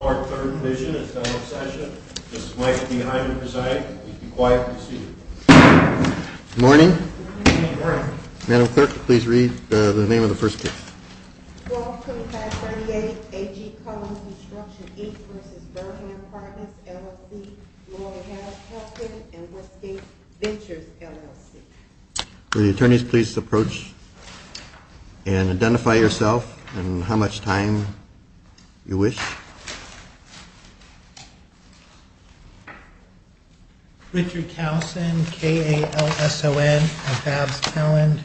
Good morning. Madam Clerk, please read the name of the first case. 122538. A.G. Cullen Construction, Inc. v. Burnham Partners, LLC. 122538. A.G. Cullen Construction, Inc. v. Burnham Partners, LLC. Will the attorneys please approach and identify yourself and how much time you wish. Richard Towson, K-A-L-S-O-N, of Babs, Maryland,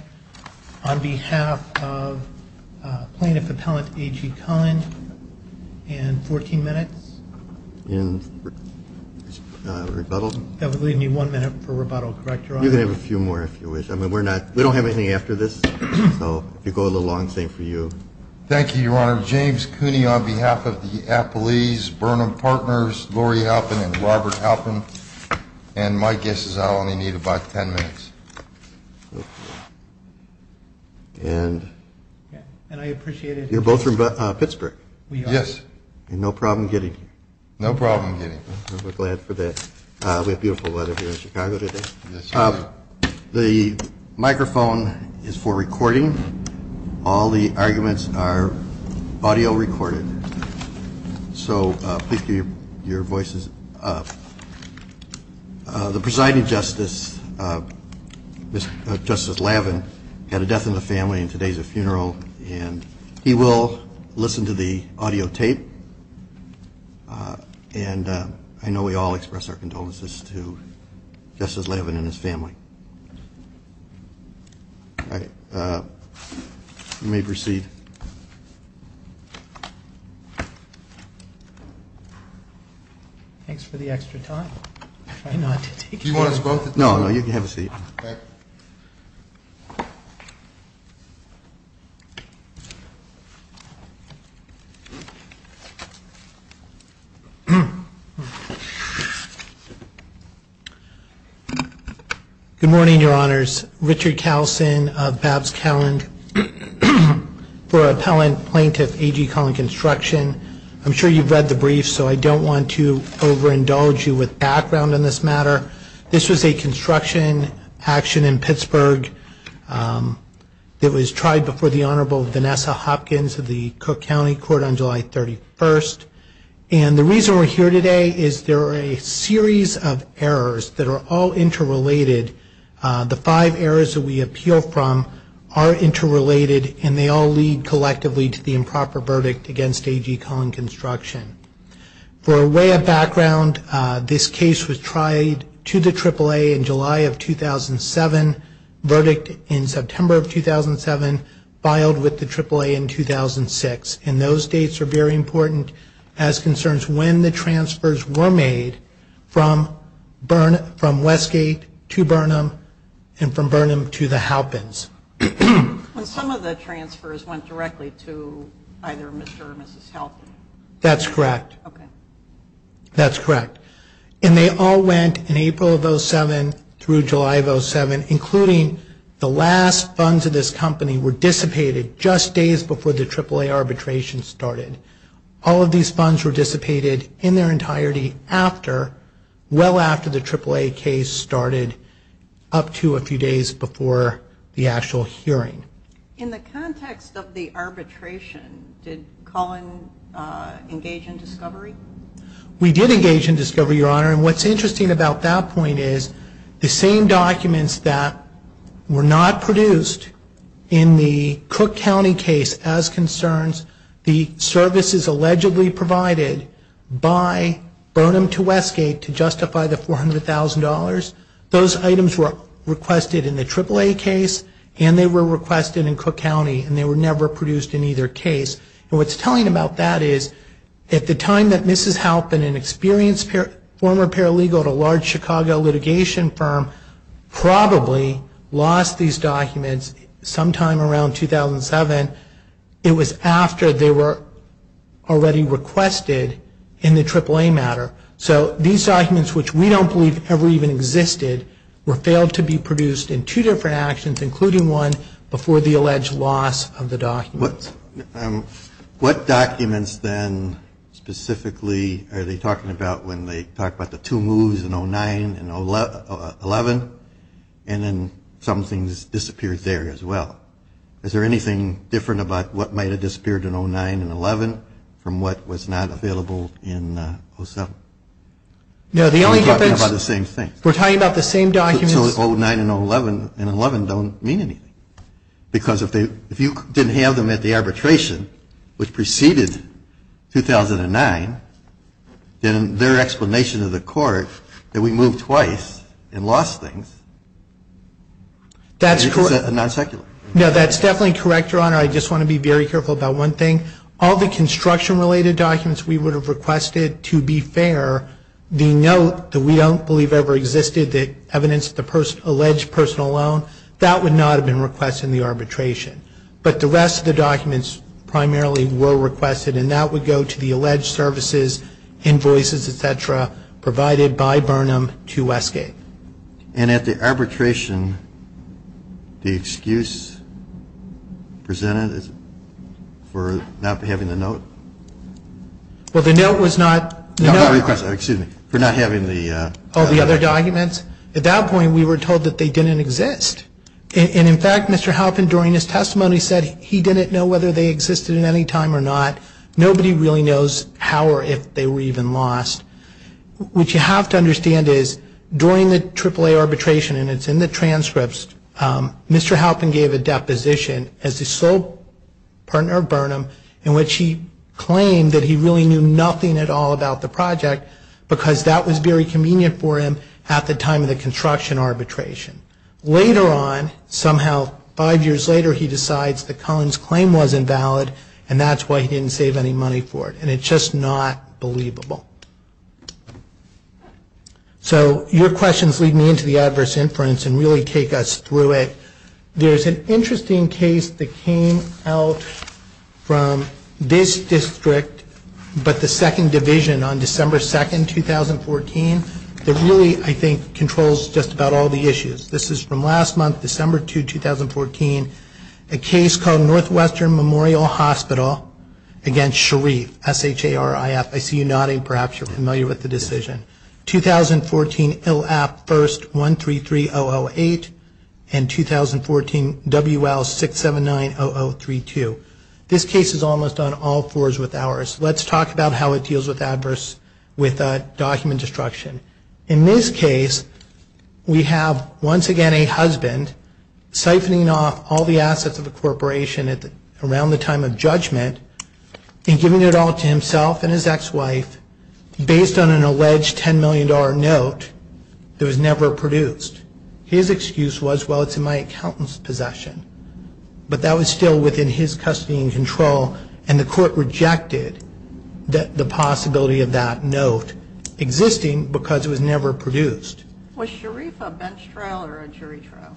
on behalf of Plaintiff Appellant A.G. Cullen. And 14 minutes in rebuttal. That would leave me one minute for rebuttal, correct, Your Honor? You can have a few more if you wish. I mean, we're not, we don't have anything after this, so if you go a little long, same for you. Thank you, Your Honor. James Cooney on behalf of the Appellees, Burnham Partners, Lori Halpin and Robert Halpin. And my guess is I'll only need about 10 minutes. And I appreciate it. You're both from Pittsburgh? We are. Yes. And no problem getting here? No problem getting here. Well, we're glad for that. We have beautiful weather here in Chicago today. The microphone is for recording. All the arguments are audio recorded. So please keep your voices up. The presiding justice, Justice Lavin, had a death in the family and today is a funeral. And he will listen to the audio tape. And I know we all express our condolences to Justice Lavin and his family. You may proceed. Thanks for the extra time. Do you want us both? No, no, you can have a seat. Good morning, Your Honors. This is Richard Kallsen of Babs Calland for Appellant Plaintiff A.G. Collin Construction. I'm sure you've read the brief, so I don't want to overindulge you with background on this matter. This was a construction action in Pittsburgh. It was tried before the Honorable Vanessa Hopkins of the Cook County Court on July 31. And the reason we're here today is there are a series of errors that are all interrelated. The five errors that we appeal from are interrelated, and they all lead collectively to the improper verdict against A.G. Collin Construction. For a way of background, this case was tried to the AAA in July of 2007, verdict in September of 2007, filed with the AAA in 2006. And those dates are very important as concerns when the transfers were made from Westgate to Burnham and from Burnham to the Halpins. And some of the transfers went directly to either Mr. or Mrs. Halpin. That's correct. That's correct. And they all went in April of 2007 through July of 2007, including the last funds of this company were dissipated just days before the AAA arbitration started. All of these funds were dissipated in their entirety after, well after the AAA case started up to a few days before the actual hearing. In the context of the arbitration, did Collin engage in discovery? We did engage in discovery, Your Honor. And what's interesting about that point is the same documents that were not produced in the Cook County case as concerns the services allegedly provided by Burnham to Westgate to justify the $400,000, those items were requested in the AAA case and they were requested in Cook County and they were never produced in either case. And what's telling about that is at the time that Mrs. Halpin, an experienced former paralegal at a large Chicago litigation firm, probably lost these documents sometime around 2007, it was after they were already requested in the AAA matter. So these documents, which we don't believe ever even existed, were failed to be produced in two different actions, including one before the alleged loss of the documents. What documents then specifically are they talking about when they talk about the two moves in 09 and 11? And then some things disappeared there as well. Is there anything different about what might have disappeared in 09 and 11 from what was not available in 07? We're talking about the same thing. We're talking about the same documents. 09 and 11 don't mean anything. Because if you didn't have them at the arbitration, which preceded 2009, then their explanation to the court that we moved twice and lost things is non-secular. No, that's definitely correct, Your Honor. I just want to be very careful about one thing. All the construction-related documents we would have requested, to be fair, the note that we don't believe ever existed, the evidence of the alleged personal loan, that would not have been requested in the arbitration. But the rest of the documents primarily were requested, and that would go to the alleged services, invoices, et cetera, provided by Burnham to Westgate. And at the arbitration, the excuse presented for not having the note? Well, the note was not the note request. Excuse me. For not having the other documents. At that point, we were told that they didn't exist. And, in fact, Mr. Halpin, during his testimony, said he didn't know whether they existed at any time or not. Nobody really knows how or if they were even lost. What you have to understand is, during the AAA arbitration, and it's in the transcripts, Mr. Halpin gave a deposition as the sole partner of Burnham, in which he claimed that he really knew nothing at all about the project, because that was very convenient for him at the time of the construction arbitration. Later on, somehow, five years later, he decides that Cullen's claim wasn't valid, and that's why he didn't save any money for it. And it's just not believable. So your questions lead me into the adverse inference and really take us through it. There's an interesting case that came out from this district, but the second division on December 2, 2014, that really, I think, controls just about all the issues. This is from last month, December 2, 2014. A case called Northwestern Memorial Hospital against Sharif, S-H-A-R-I-F. I see you nodding. Perhaps you're familiar with the decision. 2014, ILAP, first 133008, and 2014, WL6790032. This case is almost on all fours with ours. Let's talk about how it deals with adverse, with document destruction. In this case, we have, once again, a husband siphoning off all the assets of a corporation around the time of judgment and giving it all to himself and his ex-wife based on an alleged $10 million note that was never produced. His excuse was, well, it's in my accountant's possession. And the court rejected the possibility of that note existing because it was never produced. Was Sharif a bench trial or a jury trial?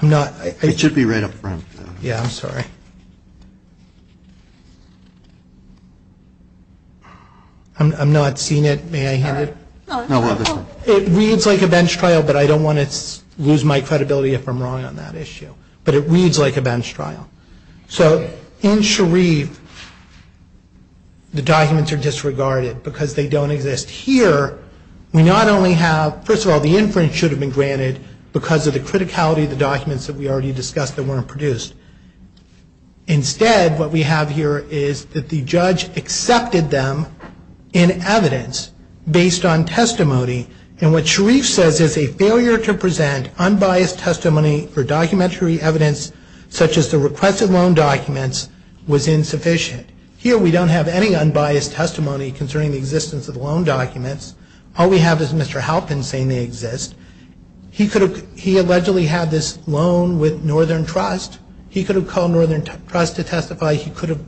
It should be right up front. Yeah, I'm sorry. I'm not seeing it. May I hand it? It reads like a bench trial, but I don't want to lose my credibility if I'm wrong on that issue. But it reads like a bench trial. So in Sharif, the documents are disregarded because they don't exist here. We not only have, first of all, the inference should have been granted because of the criticality of the documents that we already discussed that weren't produced. Instead, what we have here is that the judge accepted them in evidence based on testimony. And what Sharif says is a failure to present unbiased testimony for documentary evidence such as the requested loan documents was insufficient. Here we don't have any unbiased testimony concerning the existence of loan documents. All we have is Mr. Halpin saying they exist. He allegedly had this loan with Northern Trust. He could have called Northern Trust to testify. He could have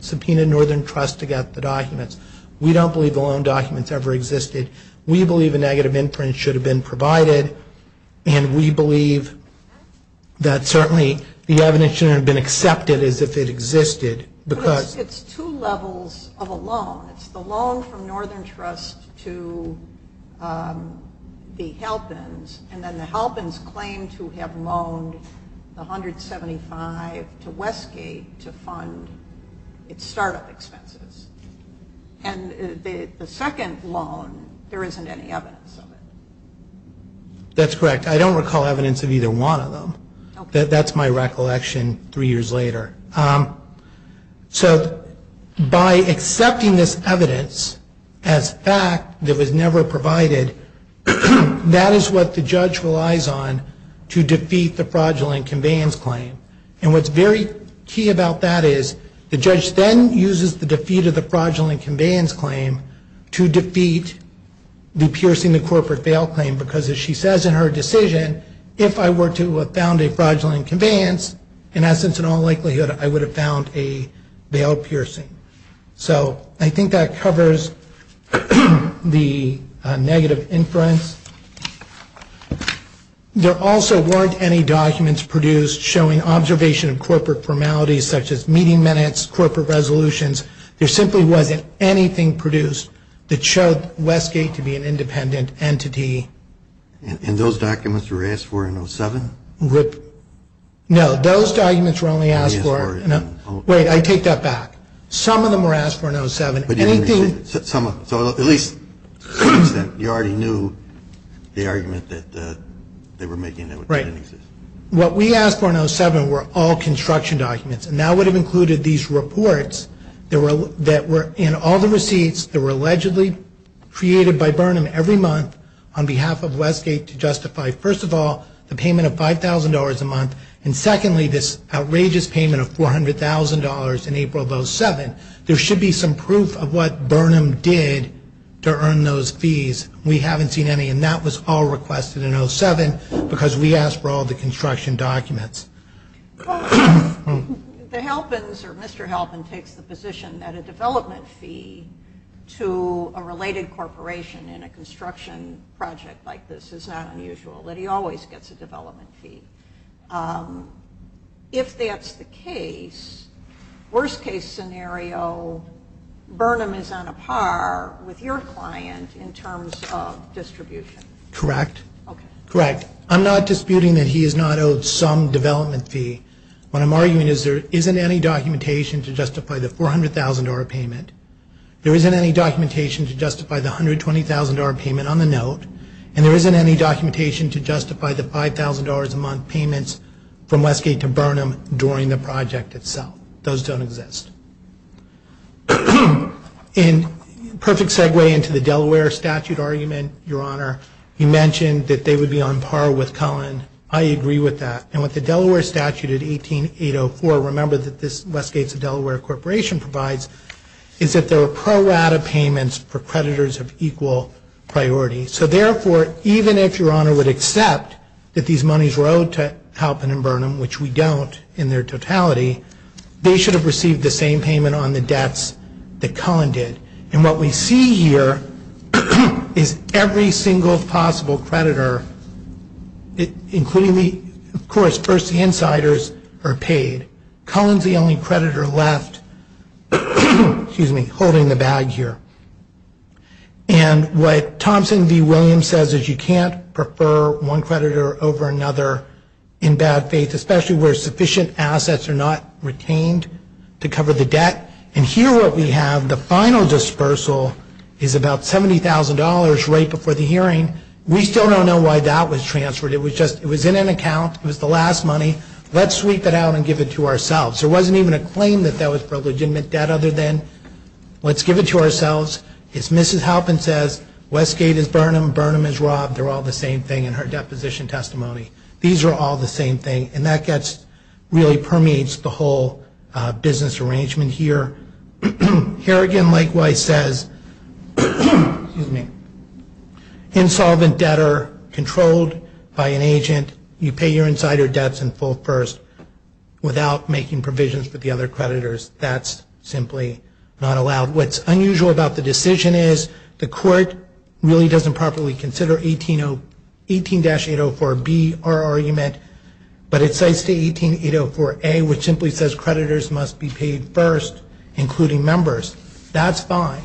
subpoenaed Northern Trust to get the documents. We don't believe the loan documents ever existed. We believe a negative imprint should have been provided. And we believe that certainly the evidence shouldn't have been accepted as if it existed. It's two levels of a loan. It's the loan from Northern Trust to the Halpins, and then the Halpins claim to have loaned the $175 to Westgate to fund its startup expenses. And the second loan, there isn't any evidence of it. That's correct. I don't recall evidence of either one of them. That's my recollection three years later. So by accepting this evidence as fact that was never provided, that is what the judge relies on to defeat the fraudulent conveyance claim. And what's very key about that is the judge then uses the defeat of the fraudulent conveyance claim to defeat the piercing the corporate bail claim. Because as she says in her decision, if I were to found a fraudulent conveyance, in essence in all likelihood I would have found a bail piercing. So I think that covers the negative inference. There also weren't any documents produced showing observation of corporate formalities such as meeting minutes, corporate resolutions. There simply wasn't anything produced that showed Westgate to be an independent entity. And those documents were asked for in 07? No, those documents were only asked for. Wait, I take that back. Some of them were asked for in 07. So at least you already knew the argument that they were making. Right. What we asked for in 07 were all construction documents. And that would have included these reports that were in all the receipts that were allegedly created by Burnham every month on behalf of Westgate to justify, first of all, the payment of $5,000 a month. And secondly, this outrageous payment of $400,000 in April of 07. There should be some proof of what Burnham did to earn those fees. We haven't seen any. And that was all requested in 07 because we asked for all the construction documents. The Halpins or Mr. Halpin takes the position that a development fee to a related corporation in a construction project like this is not unusual, that he always gets a development fee. If that's the case, worst-case scenario, Burnham is on a par with your client in terms of distribution. Correct. Okay. Correct. I'm not disputing that he is not owed some development fee. What I'm arguing is there isn't any documentation to justify the $400,000 payment. There isn't any documentation to justify the $120,000 payment on the note. And there isn't any documentation to justify the $5,000 a month payments from Westgate to Burnham during the project itself. Those don't exist. And perfect segue into the Delaware statute argument, Your Honor. You mentioned that they would be on par with Cullen. I agree with that. And with the Delaware statute at 18804, remember that this Westgate to Delaware corporation provides, is that there are pro-rata payments for creditors of equal priority. So, therefore, even if Your Honor would accept that these monies were owed to Halpin and Burnham, which we don't in their totality, they should have received the same payment on the debts that Cullen did. And what we see here is every single possible creditor, including the, of course, the insiders, are paid. Cullen is the only creditor left holding the bag here. And what Thompson v. Williams says is you can't prefer one creditor over another in bad faith, especially where sufficient assets are not retained to cover the debt. And here what we have, the final dispersal is about $70,000 right before the hearing. We still don't know why that was transferred. It was in an account. It was the last money. Let's sweep it out and give it to ourselves. There wasn't even a claim that that was illegitimate debt other than let's give it to ourselves. As Mrs. Halpin says, Westgate is Burnham. Burnham is robbed. They're all the same thing in her deposition testimony. These are all the same thing. And that really permeates the whole business arrangement here. Here again, likewise, says insolvent debtor controlled by an agent. You pay your insider debts in full first without making provisions for the other creditors. That's simply not allowed. What's unusual about the decision is the court really doesn't properly consider 18-804B, our argument, but it cites the 18-804A, which simply says creditors must be paid first, including members. That's fine.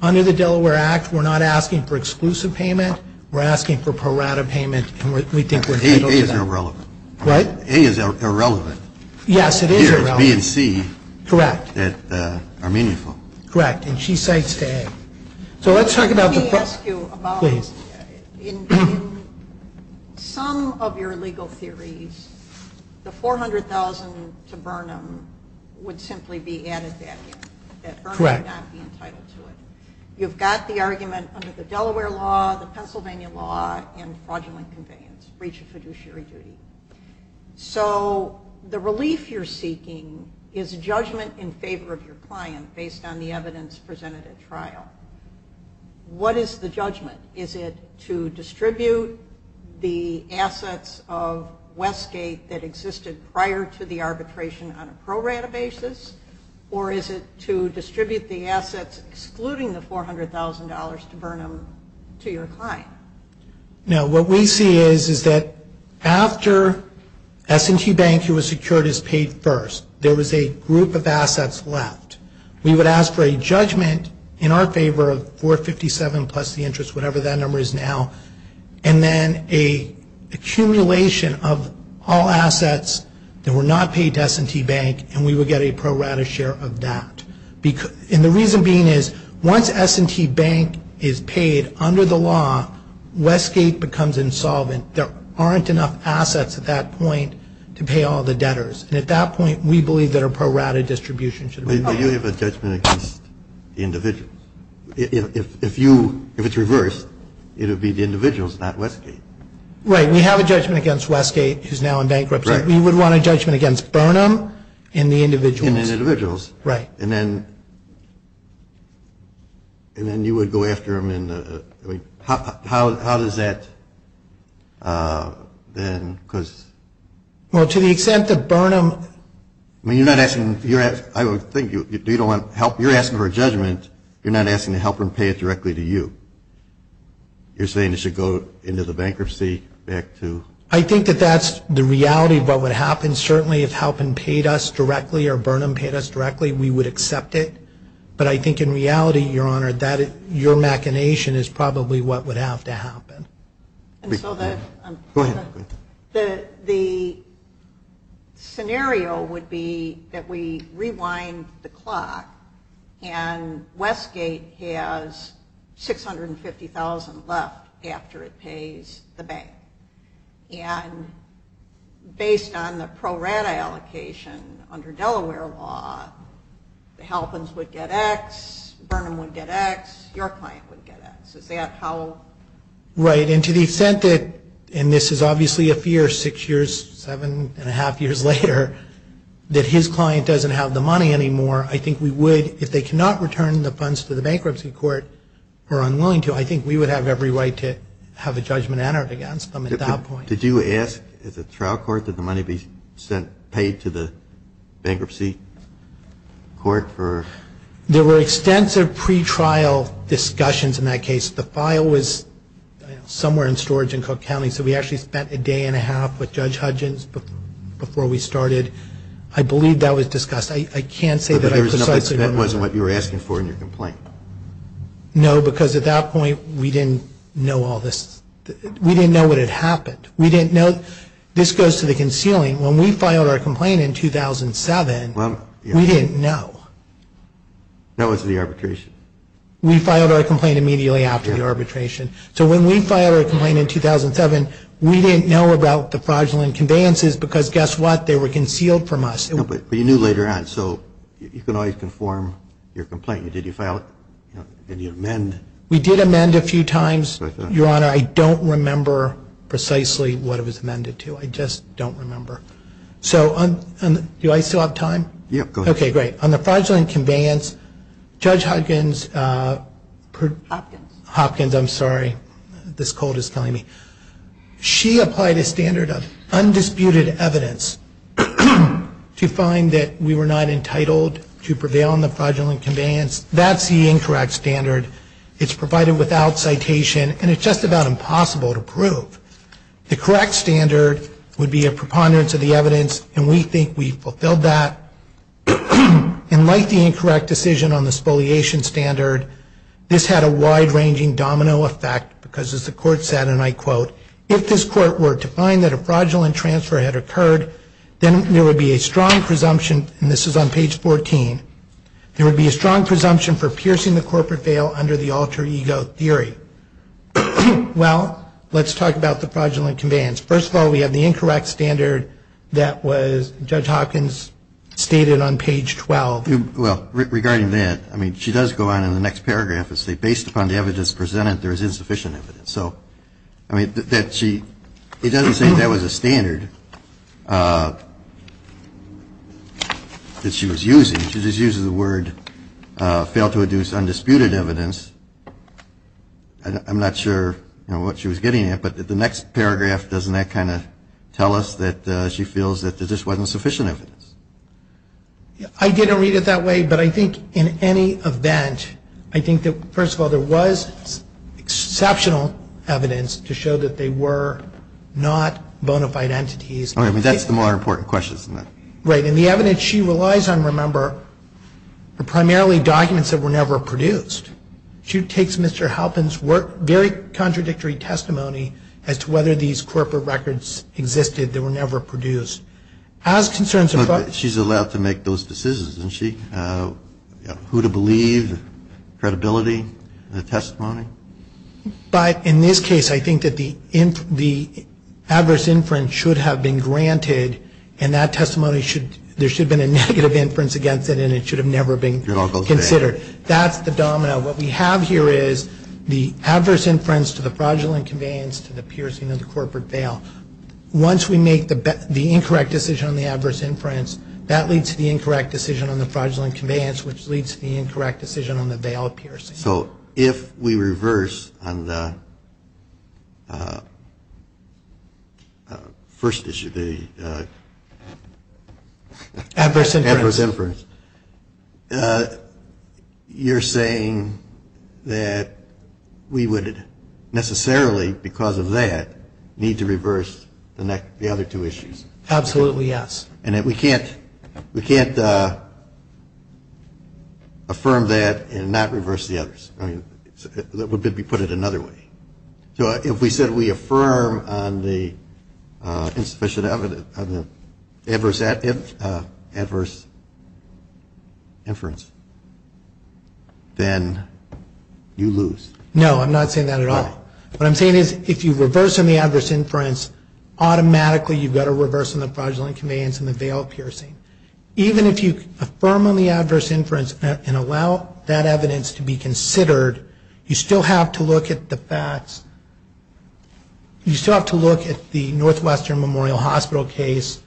Under the Delaware Act, we're not asking for exclusive payment. We're asking for parata payment, and we think we're entitled to that. A is irrelevant. What? A is irrelevant. Yes, it is irrelevant. Here it's B and C. Correct. That are meaningful. Correct. And she cites to A. Let me ask you about in some of your legal theories, the $400,000 to Burnham would simply be added back in, that Burnham would not be entitled to it. Correct. You've got the argument under the Delaware law, the Pennsylvania law, and fraudulent conveyance, breach of fiduciary duty. So the relief you're seeking is judgment in favor of your client based on the evidence presented at trial. What is the judgment? Is it to distribute the assets of Westgate that existed prior to the arbitration on a pro rata basis, or is it to distribute the assets excluding the $400,000 to Burnham to your client? No, what we see is that after S&T Bank who was secured is paid first, there was a group of assets left. We would ask for a judgment in our favor of 457 plus the interest, whatever that number is now, and then an accumulation of all assets that were not paid to S&T Bank, and we would get a pro rata share of that. And the reason being is once S&T Bank is paid under the law, Westgate becomes insolvent. There aren't enough assets at that point to pay all the debtors. And at that point, we believe that a pro rata distribution should be paid. But you have a judgment against the individuals. If it's reversed, it would be the individuals, not Westgate. Right. We have a judgment against Westgate, who is now in bankruptcy. Right. We would want a judgment against Burnham and the individuals. And the individuals. Right. And then you would go after them in the – how does that then – because – Well, to the extent that Burnham – I mean, you're not asking – I think you don't want help. You're asking for a judgment. You're not asking to help them pay it directly to you. You're saying it should go into the bankruptcy back to – I think that that's the reality of what would happen. Certainly, if Halpin paid us directly or Burnham paid us directly, we would accept it. But I think in reality, Your Honor, your machination is probably what would have to happen. Go ahead. The scenario would be that we rewind the clock and Westgate has $650,000 left after it pays the bank. And based on the pro rata allocation under Delaware law, the Halpins would get X, Burnham would get X, your client would get X. Is that how – Right. And to the extent that – and this is obviously a fear six years, seven and a half years later – that his client doesn't have the money anymore, I think we would – if they cannot return the funds to the bankruptcy court or are unwilling to, I think we would have every right to have a judgment entered against them at that point. Did you ask at the trial court that the money be paid to the bankruptcy court for – There were extensive pretrial discussions in that case. The file was somewhere in storage in Cook County, so we actually spent a day and a half with Judge Hudgens before we started. I believe that was discussed. I can't say that I precisely remember. But that wasn't what you were asking for in your complaint. No, because at that point, we didn't know all this. We didn't know what had happened. We didn't know – this goes to the concealing. When we filed our complaint in 2007, we didn't know. That was the arbitration. We filed our complaint immediately after the arbitration. So when we filed our complaint in 2007, we didn't know about the fraudulent conveyances because, guess what, they were concealed from us. But you knew later on, so you can always conform your complaint. Did you file it? Did you amend? We did amend a few times, Your Honor. I don't remember precisely what it was amended to. I just don't remember. So do I still have time? Yeah, go ahead. Okay, great. On the fraudulent conveyance, Judge Hudgens – Hopkins. Hopkins, I'm sorry. This cold is killing me. She applied a standard of undisputed evidence to find that we were not entitled to prevail on the fraudulent conveyance. That's the incorrect standard. It's provided without citation, and it's just about impossible to prove. The correct standard would be a preponderance of the evidence, and we think we fulfilled that. And like the incorrect decision on the spoliation standard, this had a wide-ranging domino effect because, as the Court said, and I quote, if this Court were to find that a fraudulent transfer had occurred, then there would be a strong presumption – and this is on page 14 – there would be a strong presumption for piercing the corporate veil under the alter ego theory. Well, let's talk about the fraudulent conveyance. First of all, we have the incorrect standard that Judge Hopkins stated on page 12. Well, regarding that, I mean, she does go on in the next paragraph and say, based upon the evidence presented, there is insufficient evidence. So, I mean, it doesn't say that was a standard that she was using. She just uses the word, failed to induce undisputed evidence. I'm not sure what she was getting at, but the next paragraph, doesn't that kind of tell us that she feels that there just wasn't sufficient evidence? I didn't read it that way, but I think in any event, I think that, first of all, there was exceptional evidence to show that they were not bona fide entities. I mean, that's the more important question, isn't it? Right, and the evidence she relies on, remember, are primarily documents that were never produced. She takes Mr. Halpin's very contradictory testimony as to whether these corporate records existed that were never produced. She's allowed to make those decisions, isn't she? Who to believe, credibility, the testimony. But in this case, I think that the adverse inference should have been granted and that testimony should, there should have been a negative inference against it and it should have never been considered. That's the domino. What we have here is the adverse inference to the fraudulent conveyance to the piercing of the corporate veil. Once we make the incorrect decision on the adverse inference, that leads to the incorrect decision on the fraudulent conveyance, which leads to the incorrect decision on the veil of piercing. So if we reverse on the first issue, the adverse inference, you're saying that we would necessarily, because of that, need to reverse the other two issues? Absolutely, yes. And we can't affirm that and not reverse the others. That would be to put it another way. So if we said we affirm on the insufficient evidence of the adverse inference, then you lose. No, I'm not saying that at all. What I'm saying is if you reverse on the adverse inference, automatically you've got to reverse on the fraudulent conveyance and the veil of piercing. Even if you affirm on the adverse inference and allow that evidence to be considered, you still have to look at the facts. You still have to look at the Northwestern Memorial Hospital case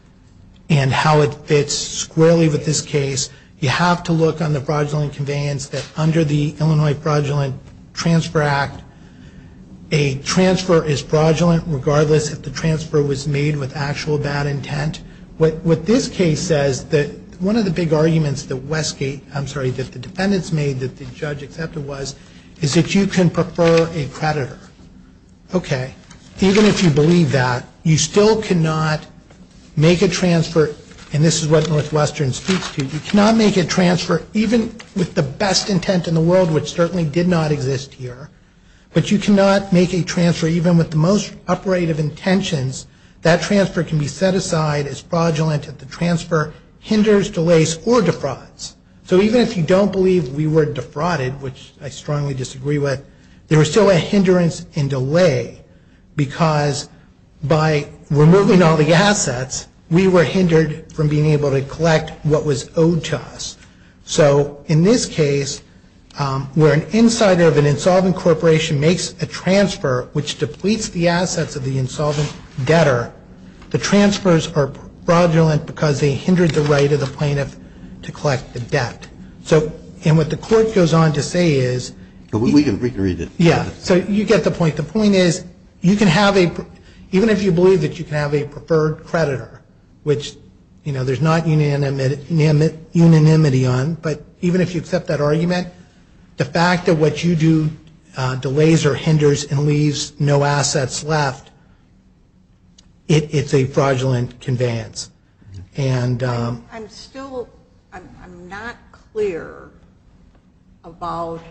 and how it fits squarely with this case. You have to look on the fraudulent conveyance that under the Illinois Fraudulent Transfer Act, a transfer is fraudulent regardless if the transfer was made with actual bad intent. What this case says, one of the big arguments that the defendants made, that the judge accepted was, is that you can prefer a creditor. Okay, even if you believe that, you still cannot make a transfer, and this is what Northwestern speaks to, you cannot make a transfer even with the best intent in the world, which certainly did not exist here, but you cannot make a transfer even with the most operative intentions. That transfer can be set aside as fraudulent if the transfer hinders, delays, or defrauds. So even if you don't believe we were defrauded, which I strongly disagree with, there is still a hindrance and delay because by removing all the assets, we were hindered from being able to collect what was owed to us. So in this case, where an insider of an insolvent corporation makes a transfer which depletes the assets of the insolvent debtor, the transfers are fraudulent because they hindered the right of the plaintiff to collect the debt. And what the court goes on to say is... But we can read it. Yeah, so you get the point. But the point is, even if you believe that you can have a preferred creditor, which there's not unanimity on, but even if you accept that argument, the fact that what you do delays or hinders and leaves no assets left, it's a fraudulent conveyance. I'm still not clear about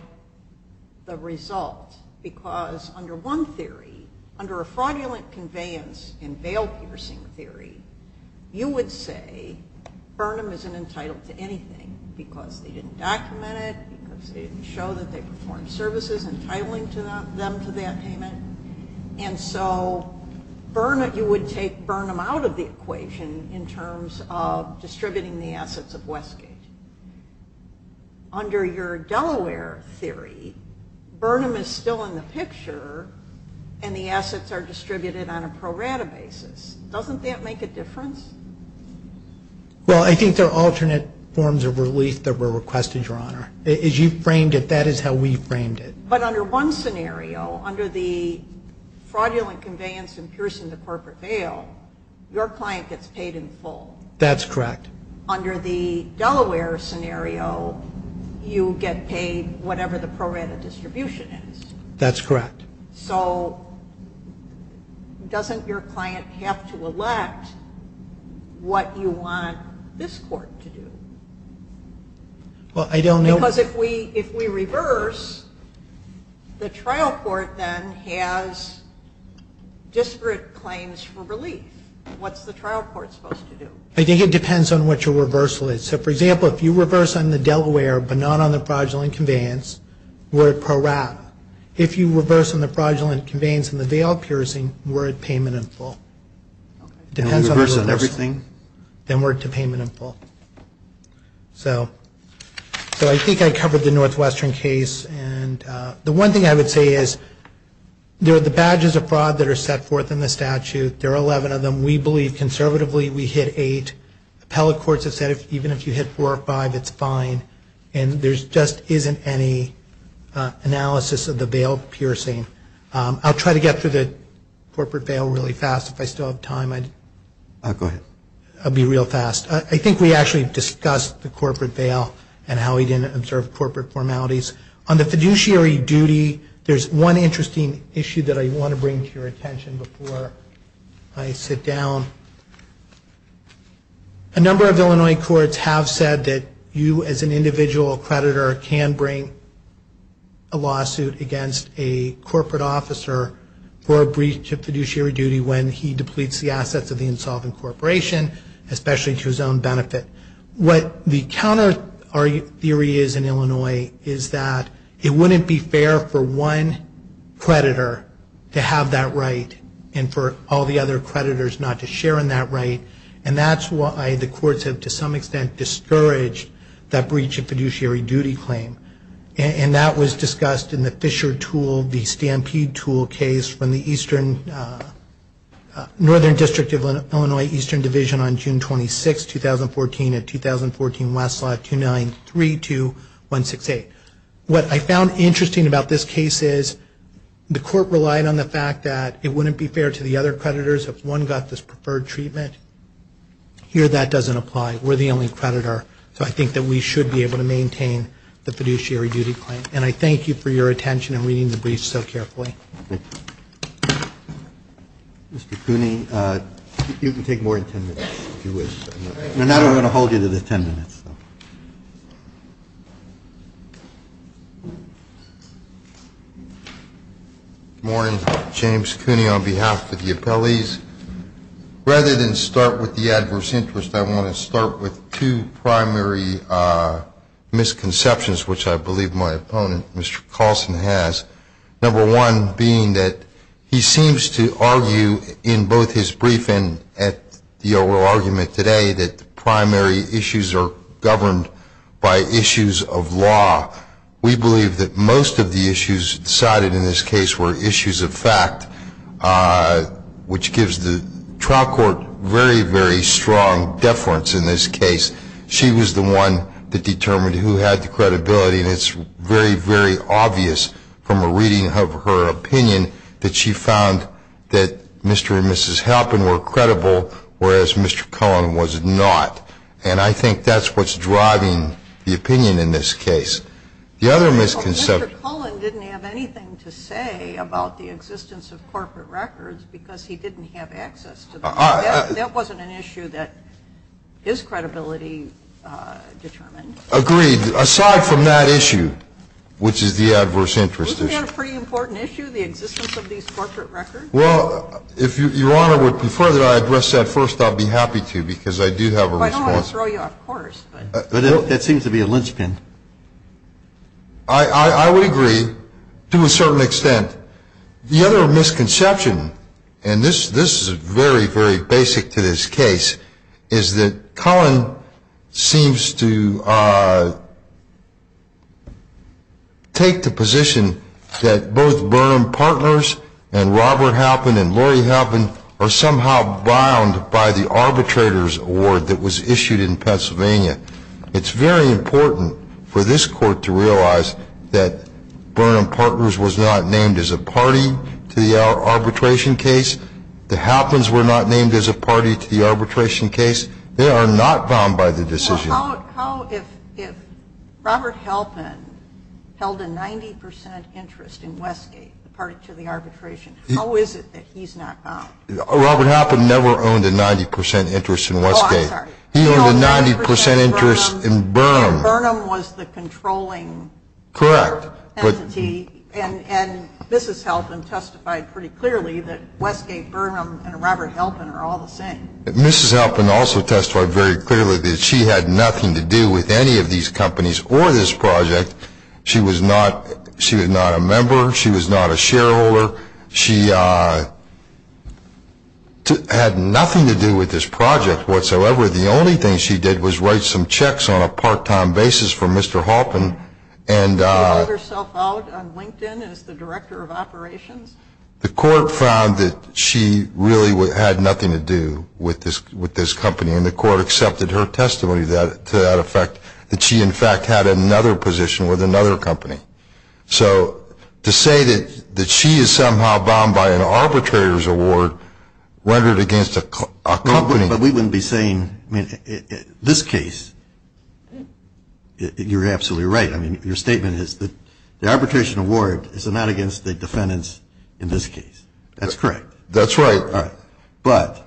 the result because under one theory, under a fraudulent conveyance and bail piercing theory, you would say Burnham isn't entitled to anything because they didn't document it, because they didn't show that they performed services entitling them to that payment. And so you would take Burnham out of the equation in terms of distributing the assets of Westgate. Under your Delaware theory, Burnham is still in the picture and the assets are distributed on a pro-rata basis. Doesn't that make a difference? Well, I think there are alternate forms of relief that were requested, Your Honor. As you framed it, that is how we framed it. But under one scenario, under the fraudulent conveyance and piercing the corporate bail, your client gets paid in full. That's correct. Under the Delaware scenario, you get paid whatever the pro-rata distribution is. That's correct. So doesn't your client have to elect what you want this court to do? Well, I don't know. Because if we reverse, the trial court then has disparate claims for relief. What's the trial court supposed to do? I think it depends on what your reversal is. So, for example, if you reverse on the Delaware but not on the fraudulent conveyance, we're at pro-rata. If you reverse on the fraudulent conveyance and the bail piercing, we're at payment in full. If you reverse on everything, then we're at payment in full. So I think I covered the Northwestern case. And the one thing I would say is there are the badges of fraud that are set forth in the statute. There are 11 of them. We believe conservatively we hit eight. Appellate courts have said even if you hit four or five, it's fine. And there just isn't any analysis of the bail piercing. I'll try to get through the corporate bail really fast if I still have time. Go ahead. I'll be real fast. I think we actually discussed the corporate bail and how we didn't observe corporate formalities. On the fiduciary duty, there's one interesting issue that I want to bring to your attention before I sit down. A number of Illinois courts have said that you, as an individual creditor, can bring a lawsuit against a corporate officer for a breach of fiduciary duty when he depletes the assets of the insolvent corporation, especially to his own benefit. What the counter theory is in Illinois is that it wouldn't be fair for one creditor to have that right and for all the other creditors not to share in that right. And that's why the courts have, to some extent, discouraged that breach of fiduciary duty claim. And that was discussed in the Fisher tool, the Stampede tool case, from the Northern District of Illinois Eastern Division on June 26, 2014, at 2014 Westside 2932168. What I found interesting about this case is the court relied on the fact that it wouldn't be fair to the other creditors if one got this preferred treatment. Here, that doesn't apply. We're the only creditor, so I think that we should be able to maintain the fiduciary duty claim. And I thank you for your attention and reading the brief so carefully. Mr. Cooney, you can take more than ten minutes if you wish. No, I don't want to hold you to the ten minutes. Good morning. James Cooney on behalf of the appellees. Rather than start with the adverse interest, I want to start with two primary misconceptions, which I believe my opponent, Mr. Colson, has. Number one being that he seems to argue in both his brief and at the oral argument today that the primary issues are governed by issues of law. We believe that most of the issues cited in this case were issues of fact, which gives the trial court very, very strong deference in this case. She was the one that determined who had the credibility, and it's very, very obvious from a reading of her opinion that she found that Mr. and Mrs. Halpin were credible, whereas Mr. Cullen was not. And I think that's what's driving the opinion in this case. The other misconception. Mr. Cullen didn't have anything to say about the existence of corporate records because he didn't have access to them. That wasn't an issue that his credibility determined. Agreed. Aside from that issue, which is the adverse interest issue. Isn't that a pretty important issue, the existence of these corporate records? Well, if Your Honor would prefer that I address that first, I'd be happy to because I do have a response. Well, I don't want to throw you off course. But that seems to be a linchpin. I would agree to a certain extent. The other misconception, and this is very, very basic to this case, is that Cullen seems to take the position that both Burnham Partners and Robert Halpin and Lori Halpin are somehow bound by the arbitrator's award that was issued in Pennsylvania. It's very important for this Court to realize that Burnham Partners was not named as a party to the arbitration case. The Halpins were not named as a party to the arbitration case. They are not bound by the decision. Well, how if Robert Halpin held a 90% interest in Westgate, the party to the arbitration, how is it that he's not bound? Robert Halpin never owned a 90% interest in Westgate. Oh, I'm sorry. He owned a 90% interest in Burnham. Burnham was the controlling entity. Correct. And Mrs. Halpin testified pretty clearly that Westgate, Burnham, and Robert Halpin are all the same. Mrs. Halpin also testified very clearly that she had nothing to do with any of these companies or this project. She was not a member. She was not a shareholder. She had nothing to do with this project whatsoever. The only thing she did was write some checks on a part-time basis for Mr. Halpin. She called herself out on LinkedIn as the director of operations. The court found that she really had nothing to do with this company, and the court accepted her testimony to that effect, that she, in fact, had another position with another company. So to say that she is somehow bound by an arbitrator's award rendered against a company. But we wouldn't be saying, I mean, this case, you're absolutely right. I mean, your statement is that the arbitration award is not against the defendants in this case. That's correct. That's right. But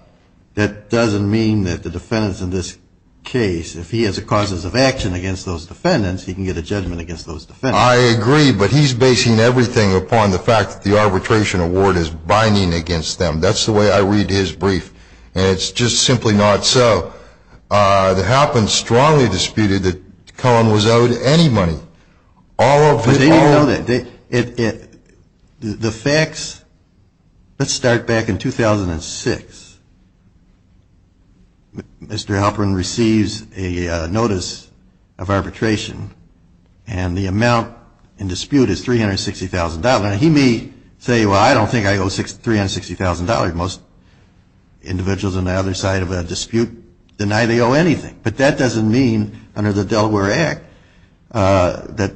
that doesn't mean that the defendants in this case, if he has a cause of action against those defendants, he can get a judgment against those defendants. I agree, but he's basing everything upon the fact that the arbitration award is binding against them. That's the way I read his brief. And it's just simply not so. The Halpins strongly disputed that Cullen was owed any money. All of it, all of it. But they didn't know that. The facts, let's start back in 2006. Mr. Halpin receives a notice of arbitration, and the amount in dispute is $360,000. He may say, well, I don't think I owe $360,000. Most individuals on the other side of the dispute deny they owe anything. But that doesn't mean under the Delaware Act that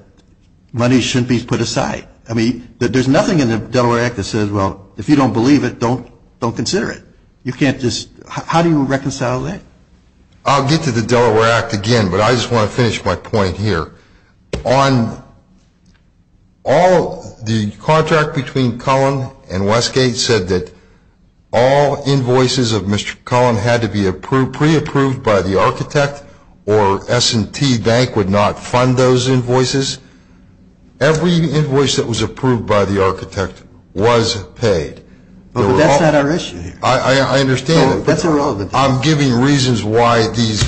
money shouldn't be put aside. I mean, there's nothing in the Delaware Act that says, well, if you don't believe it, don't consider it. You can't just – how do you reconcile that? I'll get to the Delaware Act again, but I just want to finish my point here. On all the contract between Cullen and Westgate said that all invoices of Mr. Cullen had to be pre-approved by the architect or S&T Bank would not fund those invoices. Every invoice that was approved by the architect was paid. But that's not our issue here. I understand. That's irrelevant. I'm giving reasons why these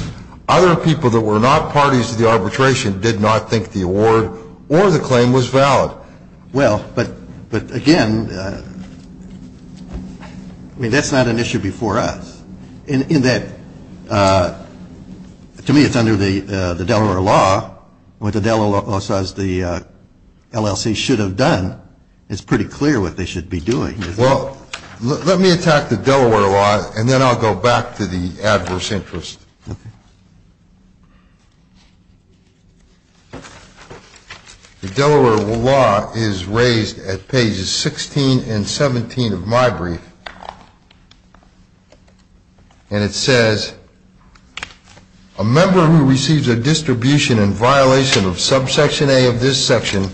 other people that were not parties to the arbitration did not think the award or the claim was valid. Well, but again, I mean, that's not an issue before us in that to me it's under the Delaware law. What the Delaware law says the LLC should have done, it's pretty clear what they should be doing. Well, let me attack the Delaware law, and then I'll go back to the adverse interest. The Delaware law is raised at pages 16 and 17 of my brief. And it says, a member who receives a distribution in violation of subsection A of this section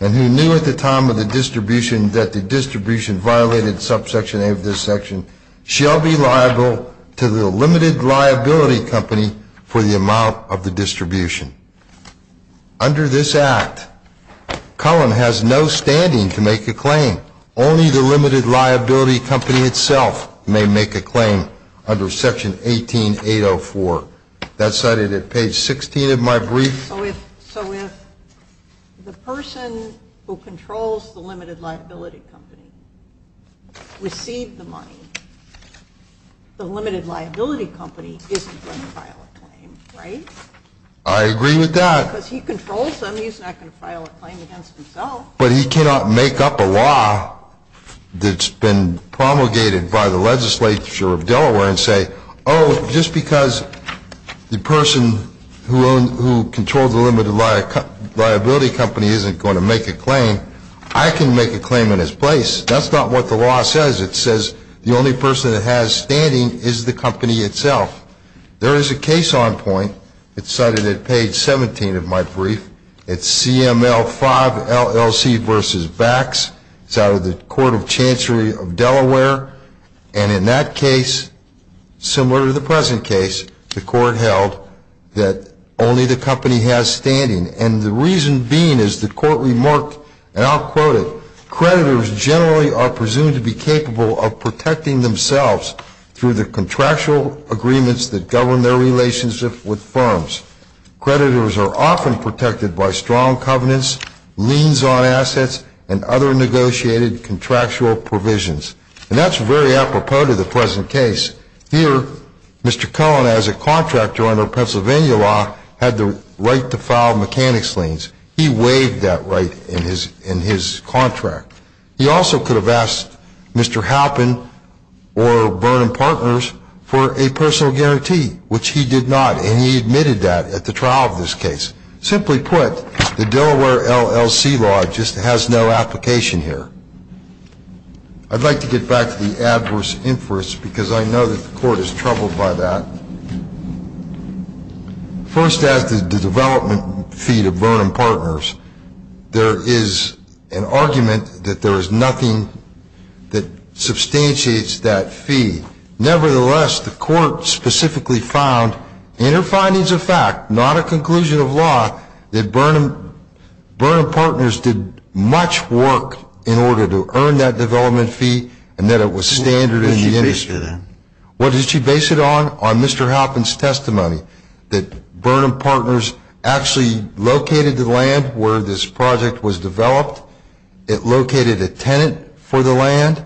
and who knew at the time of the distribution that the distribution violated subsection A of this section shall be liable to the limited liability company for the amount of the distribution. Under this act, Cullen has no standing to make a claim. Only the limited liability company itself may make a claim under section 18804. That's cited at page 16 of my brief. So if the person who controls the limited liability company received the money, the limited liability company isn't going to file a claim, right? I agree with that. Because he controls them, he's not going to file a claim against himself. But he cannot make up a law that's been promulgated by the legislature of Delaware and say, oh, just because the person who controls the limited liability company isn't going to make a claim, I can make a claim in his place. That's not what the law says. It says the only person that has standing is the company itself. There is a case on point. It's cited at page 17 of my brief. It's CML 5 LLC v. Vax. It's out of the Court of Chancery of Delaware. And in that case, similar to the present case, the Court held that only the company has standing. And the reason being is the Court remarked, and I'll quote it, creditors generally are presumed to be capable of protecting themselves through the contractual agreements that govern their relationship with firms. Creditors are often protected by strong covenants, liens on assets, and other negotiated contractual provisions. And that's very apropos to the present case. Here, Mr. Cullen, as a contractor under Pennsylvania law, had the right to file mechanics liens. He waived that right in his contract. He also could have asked Mr. Halpin or Burnham Partners for a personal guarantee, which he did not, and he admitted that at the trial of this case. Simply put, the Delaware LLC law just has no application here. I'd like to get back to the adverse inference, because I know that the Court is troubled by that. First, as to the development fee to Burnham Partners, there is an argument that there is nothing that substantiates that fee. Nevertheless, the Court specifically found in her findings of fact, not a conclusion of law, that Burnham Partners did much work in order to earn that development fee, and that it was standard in the industry. What did she base it on? What did she base it on? On Mr. Halpin's testimony, that Burnham Partners actually located the land where this project was developed. It located a tenant for the land.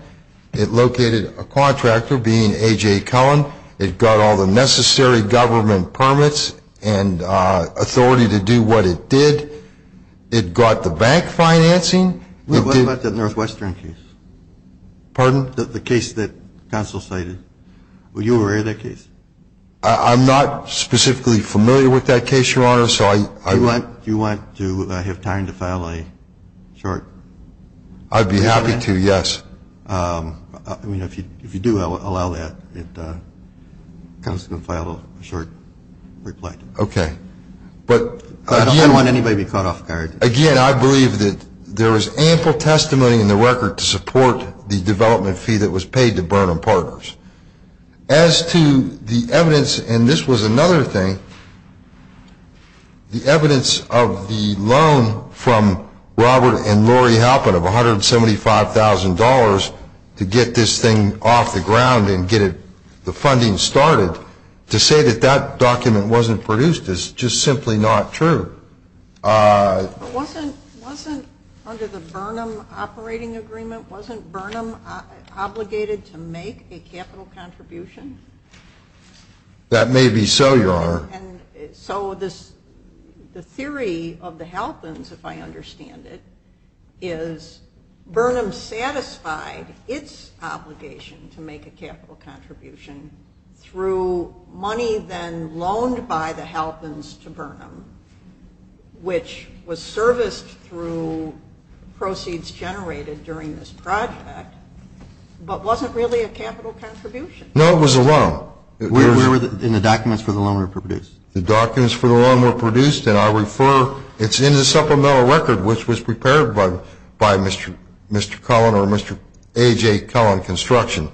It located a contractor, being A.J. Cullen. It got all the necessary government permits and authority to do what it did. It got the bank financing. What about the Northwestern case? Pardon? The case that counsel cited. Were you aware of that case? I'm not specifically familiar with that case, Your Honor. Do you want to have time to file a short? I'd be happy to, yes. I mean, if you do allow that, it comes to file a short reply. Okay. I don't want anybody to be caught off guard. Again, I believe that there is ample testimony in the record to support the development fee that was paid to Burnham Partners. As to the evidence, and this was another thing, the evidence of the loan from Robert and Lori Halpin of $175,000 to get this thing off the ground and get the funding started, to say that that document wasn't produced is just simply not true. Wasn't under the Burnham operating agreement, wasn't Burnham obligated to make a capital contribution? That may be so, Your Honor. So the theory of the Halpins, if I understand it, is Burnham satisfied its obligation to make a capital contribution through money then loaned by the Halpins to Burnham, which was serviced through proceeds generated during this project, but wasn't really a capital contribution. No, it was a loan. And the documents for the loan were produced? The documents for the loan were produced, and I refer, it's in the supplemental record, which was prepared by Mr. Cullen or Mr. A.J. Cullen Construction.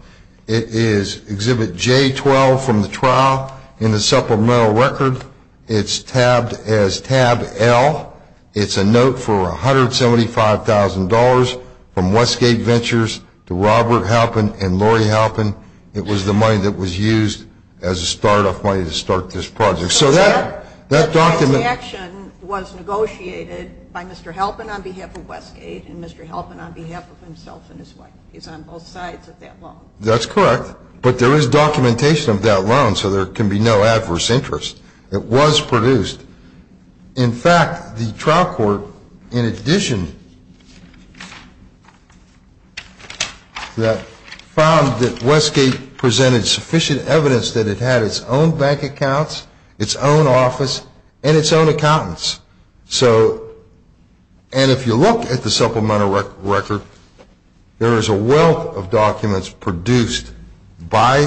It is Exhibit J12 from the trial in the supplemental record. It's tabbed as tab L. It's a note for $175,000 from Westgate Ventures to Robert Halpin and Lori Halpin. It was the money that was used as a start-off money to start this project. So that document – So that transaction was negotiated by Mr. Halpin on behalf of Westgate and Mr. Halpin on behalf of himself and his wife. He's on both sides of that loan. That's correct. But there is documentation of that loan, so there can be no adverse interest. It was produced. In fact, the trial court, in addition to that, found that Westgate presented sufficient evidence that it had its own bank accounts, its own office, and its own accountants. And if you look at the supplemental record, there is a wealth of documents produced by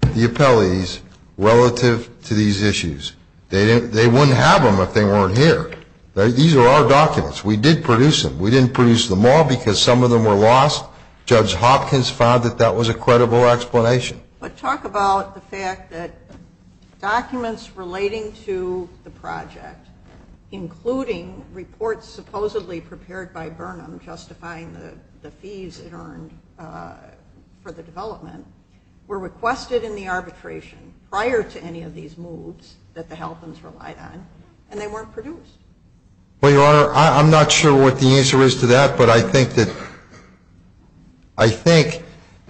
the appellees relative to these issues. They wouldn't have them if they weren't here. These are our documents. We did produce them. We didn't produce them all because some of them were lost. Judge Hopkins found that that was a credible explanation. But talk about the fact that documents relating to the project, including reports supposedly prepared by Burnham justifying the fees it earned for the development, were requested in the arbitration prior to any of these moves that the Halpins relied on, and they weren't produced. Well, Your Honor, I'm not sure what the answer is to that, but I think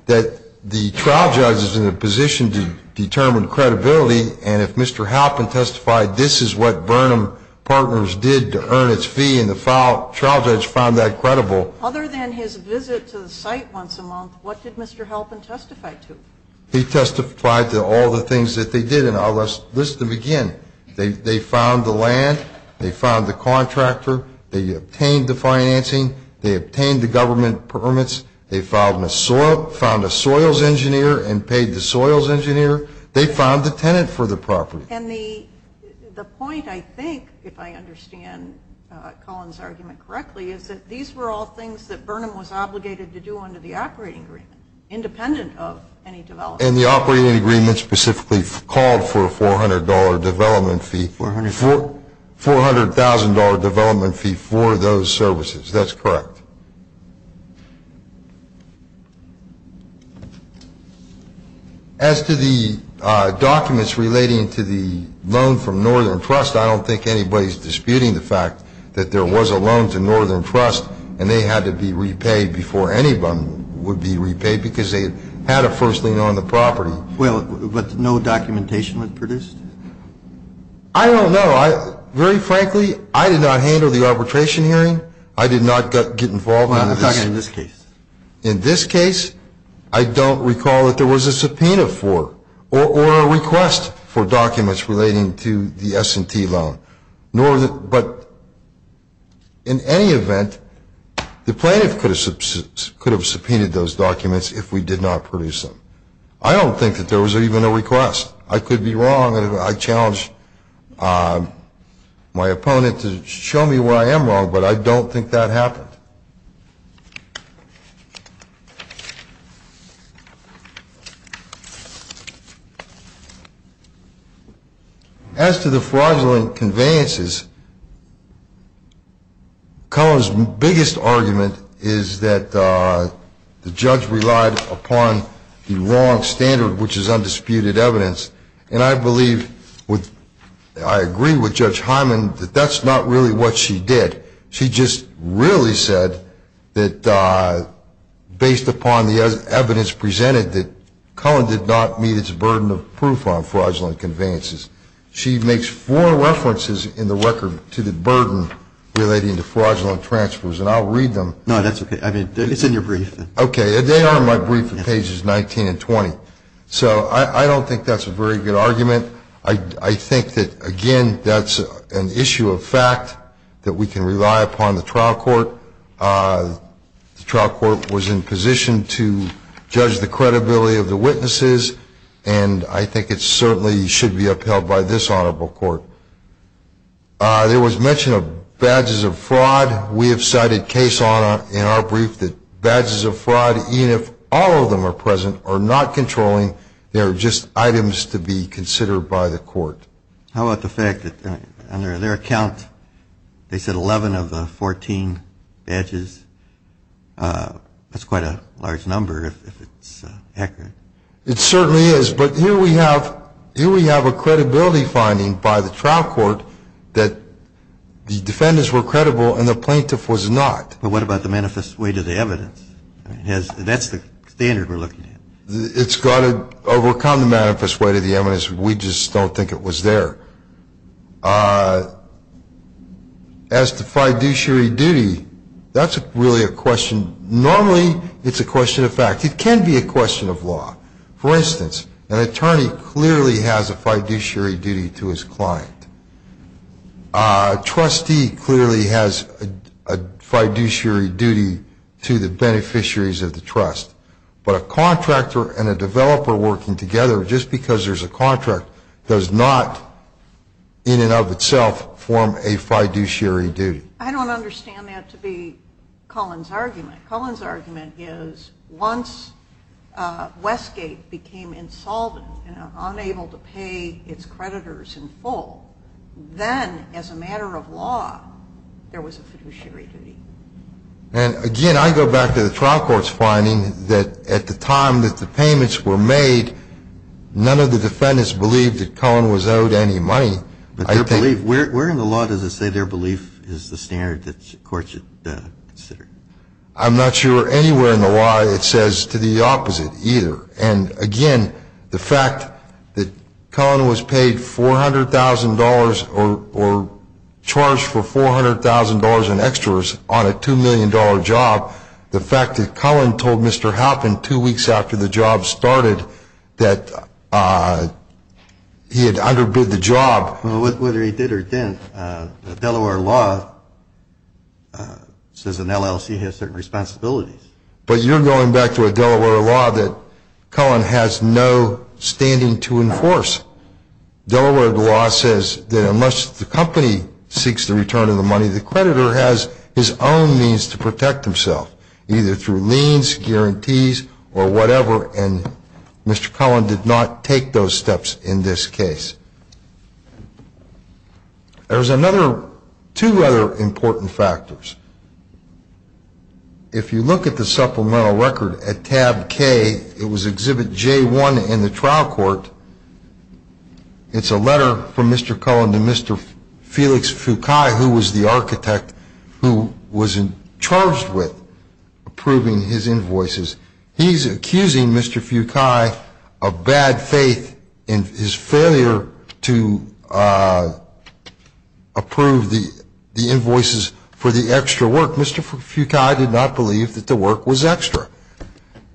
that the trial judge is in a position to determine credibility, and if Mr. Halpin testified this is what Burnham Partners did to earn its fee and the trial judge found that credible. Other than his visit to the site once a month, what did Mr. Halpin testify to? He testified to all the things that they did, and I'll list them again. They found the land. They found the contractor. They obtained the financing. They obtained the government permits. They found a soils engineer and paid the soils engineer. They found the tenant for the property. And the point, I think, if I understand Colin's argument correctly, is that these were all things that Burnham was obligated to do under the operating agreement, independent of any development. And the operating agreement specifically called for a $400 development fee. $400,000 development fee for those services. That's correct. As to the documents relating to the loan from Northern Trust, I don't think anybody's disputing the fact that there was a loan to Northern Trust and they had to be repaid before anybody would be repaid because they had a first lien on the property. Well, but no documentation was produced? I don't know. Very frankly, I did not handle the arbitration hearing. I did not get involved in this. Well, I'm talking in this case. In this case, I don't recall that there was a subpoena for or a request for documents relating to the S&T loan. But in any event, the plaintiff could have subpoenaed those documents if we did not produce them. I don't think that there was even a request. I could be wrong. I challenge my opponent to show me where I am wrong, but I don't think that happened. As to the fraudulent conveyances, Cohen's biggest argument is that the judge relied upon the wrong standard, which is undisputed evidence. And I believe, I agree with Judge Hyman, that that's not really what she did. She just really said that based upon the evidence presented, that Cohen did not meet its burden of proof on fraudulent conveyances. She makes four references in the record to the burden relating to fraudulent transfers, and I'll read them. No, that's okay. It's in your brief. Okay. They are in my brief on pages 19 and 20. So I don't think that's a very good argument. I think that, again, that's an issue of fact that we can rely upon the trial court. The trial court was in position to judge the credibility of the witnesses, and I think it certainly should be upheld by this honorable court. There was mention of badges of fraud. We have cited case law in our brief that badges of fraud, even if all of them are present, are not controlling. They are just items to be considered by the court. How about the fact that under their account they said 11 of the 14 badges? That's quite a large number if it's accurate. It certainly is. But here we have a credibility finding by the trial court that the defendants were credible and the plaintiff was not. But what about the manifest way to the evidence? That's the standard we're looking at. It's got to overcome the manifest way to the evidence. We just don't think it was there. As to fiduciary duty, that's really a question. Normally it's a question of fact. It can be a question of law. For instance, an attorney clearly has a fiduciary duty to his client. A trustee clearly has a fiduciary duty to the beneficiaries of the trust. But a contractor and a developer working together just because there's a contract does not in and of itself form a fiduciary duty. I don't understand that to be Cullen's argument. Cullen's argument is once Westgate became insolvent and unable to pay its creditors in full, then as a matter of law there was a fiduciary duty. Again, I go back to the trial court's finding that at the time that the payments were made, none of the defendants believed that Cullen was owed any money. Where in the law does it say their belief is the standard that courts should consider? I'm not sure anywhere in the law it says to the opposite either. And again, the fact that Cullen was paid $400,000 or charged for $400,000 in extras on a $2 million job, the fact that Cullen told Mr. Halpin two weeks after the job started that he had underbid the job. Whether he did or didn't, Delaware law says an LLC has certain responsibilities. But you're going back to a Delaware law that Cullen has no standing to enforce. Delaware law says that unless the company seeks the return of the money, the creditor has his own means to protect himself, either through liens, guarantees, or whatever. And Mr. Cullen did not take those steps in this case. There's another two other important factors. If you look at the supplemental record at tab K, it was exhibit J1 in the trial court. It's a letter from Mr. Cullen to Mr. Felix Fucai, who was the architect who was charged with approving his invoices. He's accusing Mr. Fucai of bad faith in his failure to approve the invoices for the extra work. Mr. Fucai did not believe that the work was extra.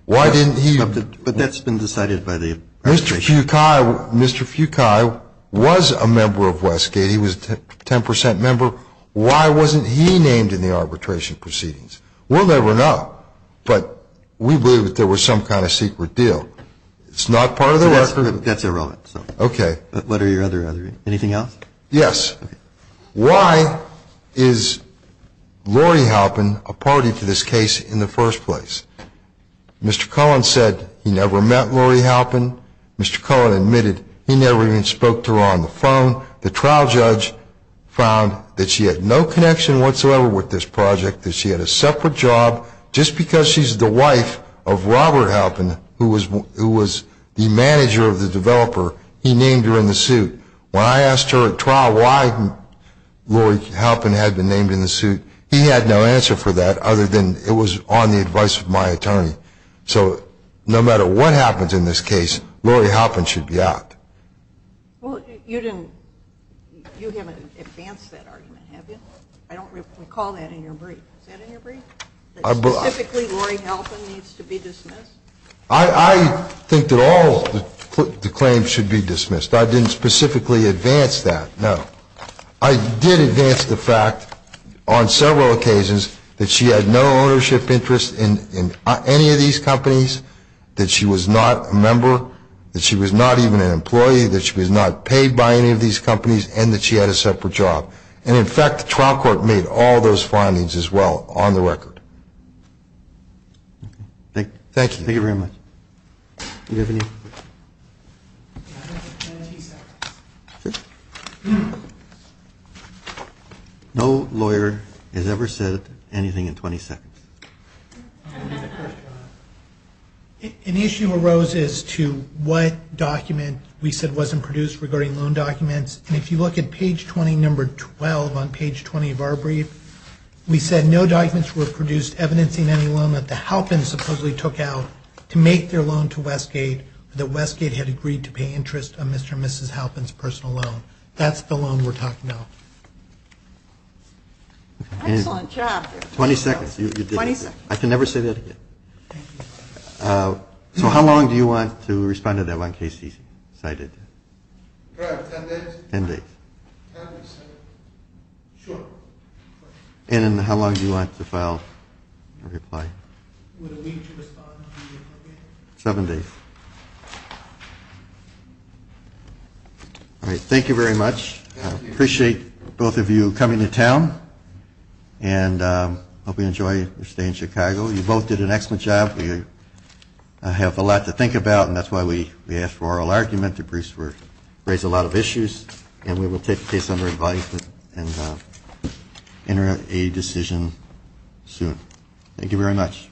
Why didn't he? But that's been decided by the arbitration. Mr. Fucai was a member of Westgate. He was a 10 percent member. Why wasn't he named in the arbitration proceedings? We'll never know. But we believe that there was some kind of secret deal. It's not part of the work. That's irrelevant. Okay. What are your other, anything else? Yes. Why is Lori Halpin a party to this case in the first place? Mr. Cullen said he never met Lori Halpin. Mr. Cullen admitted he never even spoke to her on the phone. The trial judge found that she had no connection whatsoever with this project, that she had a separate job just because she's the wife of Robert Halpin, who was the manager of the developer, he named her in the suit. When I asked her at trial why Lori Halpin had been named in the suit, he had no answer for that other than it was on the advice of my attorney. So no matter what happens in this case, Lori Halpin should be out. Well, you didn't, you haven't advanced that argument, have you? I don't recall that in your brief. Is that in your brief, that specifically Lori Halpin needs to be dismissed? I think that all the claims should be dismissed. I didn't specifically advance that, no. I did advance the fact on several occasions that she had no ownership interest in any of these companies, that she was not a member, that she was not even an employee, that she was not paid by any of these companies, and that she had a separate job. And in fact, the trial court made all those findings as well on the record. Thank you. Thank you very much. No lawyer has ever said anything in 20 seconds. An issue arose as to what document we said wasn't produced regarding loan documents. And if you look at page 20, number 12 on page 20 of our brief, we said no documents were produced evidencing any loan that the Halpins supposedly took out to make their loan to Westgate, or that Westgate had agreed to pay interest on Mr. and Mrs. Halpin's personal loan. That's the loan we're talking about. Excellent job. 20 seconds. 20 seconds. I can never say that again. So how long do you want to respond to that one case he cited? Ten days. Ten days. Sure. And how long do you want to file a reply? Seven days. All right. Thank you very much. I appreciate both of you coming to town. And I hope you enjoy your stay in Chicago. You both did an excellent job. We have a lot to think about, and that's why we asked for oral argument. The briefs raised a lot of issues. And we will take the case under invite and enter a decision soon. Thank you very much.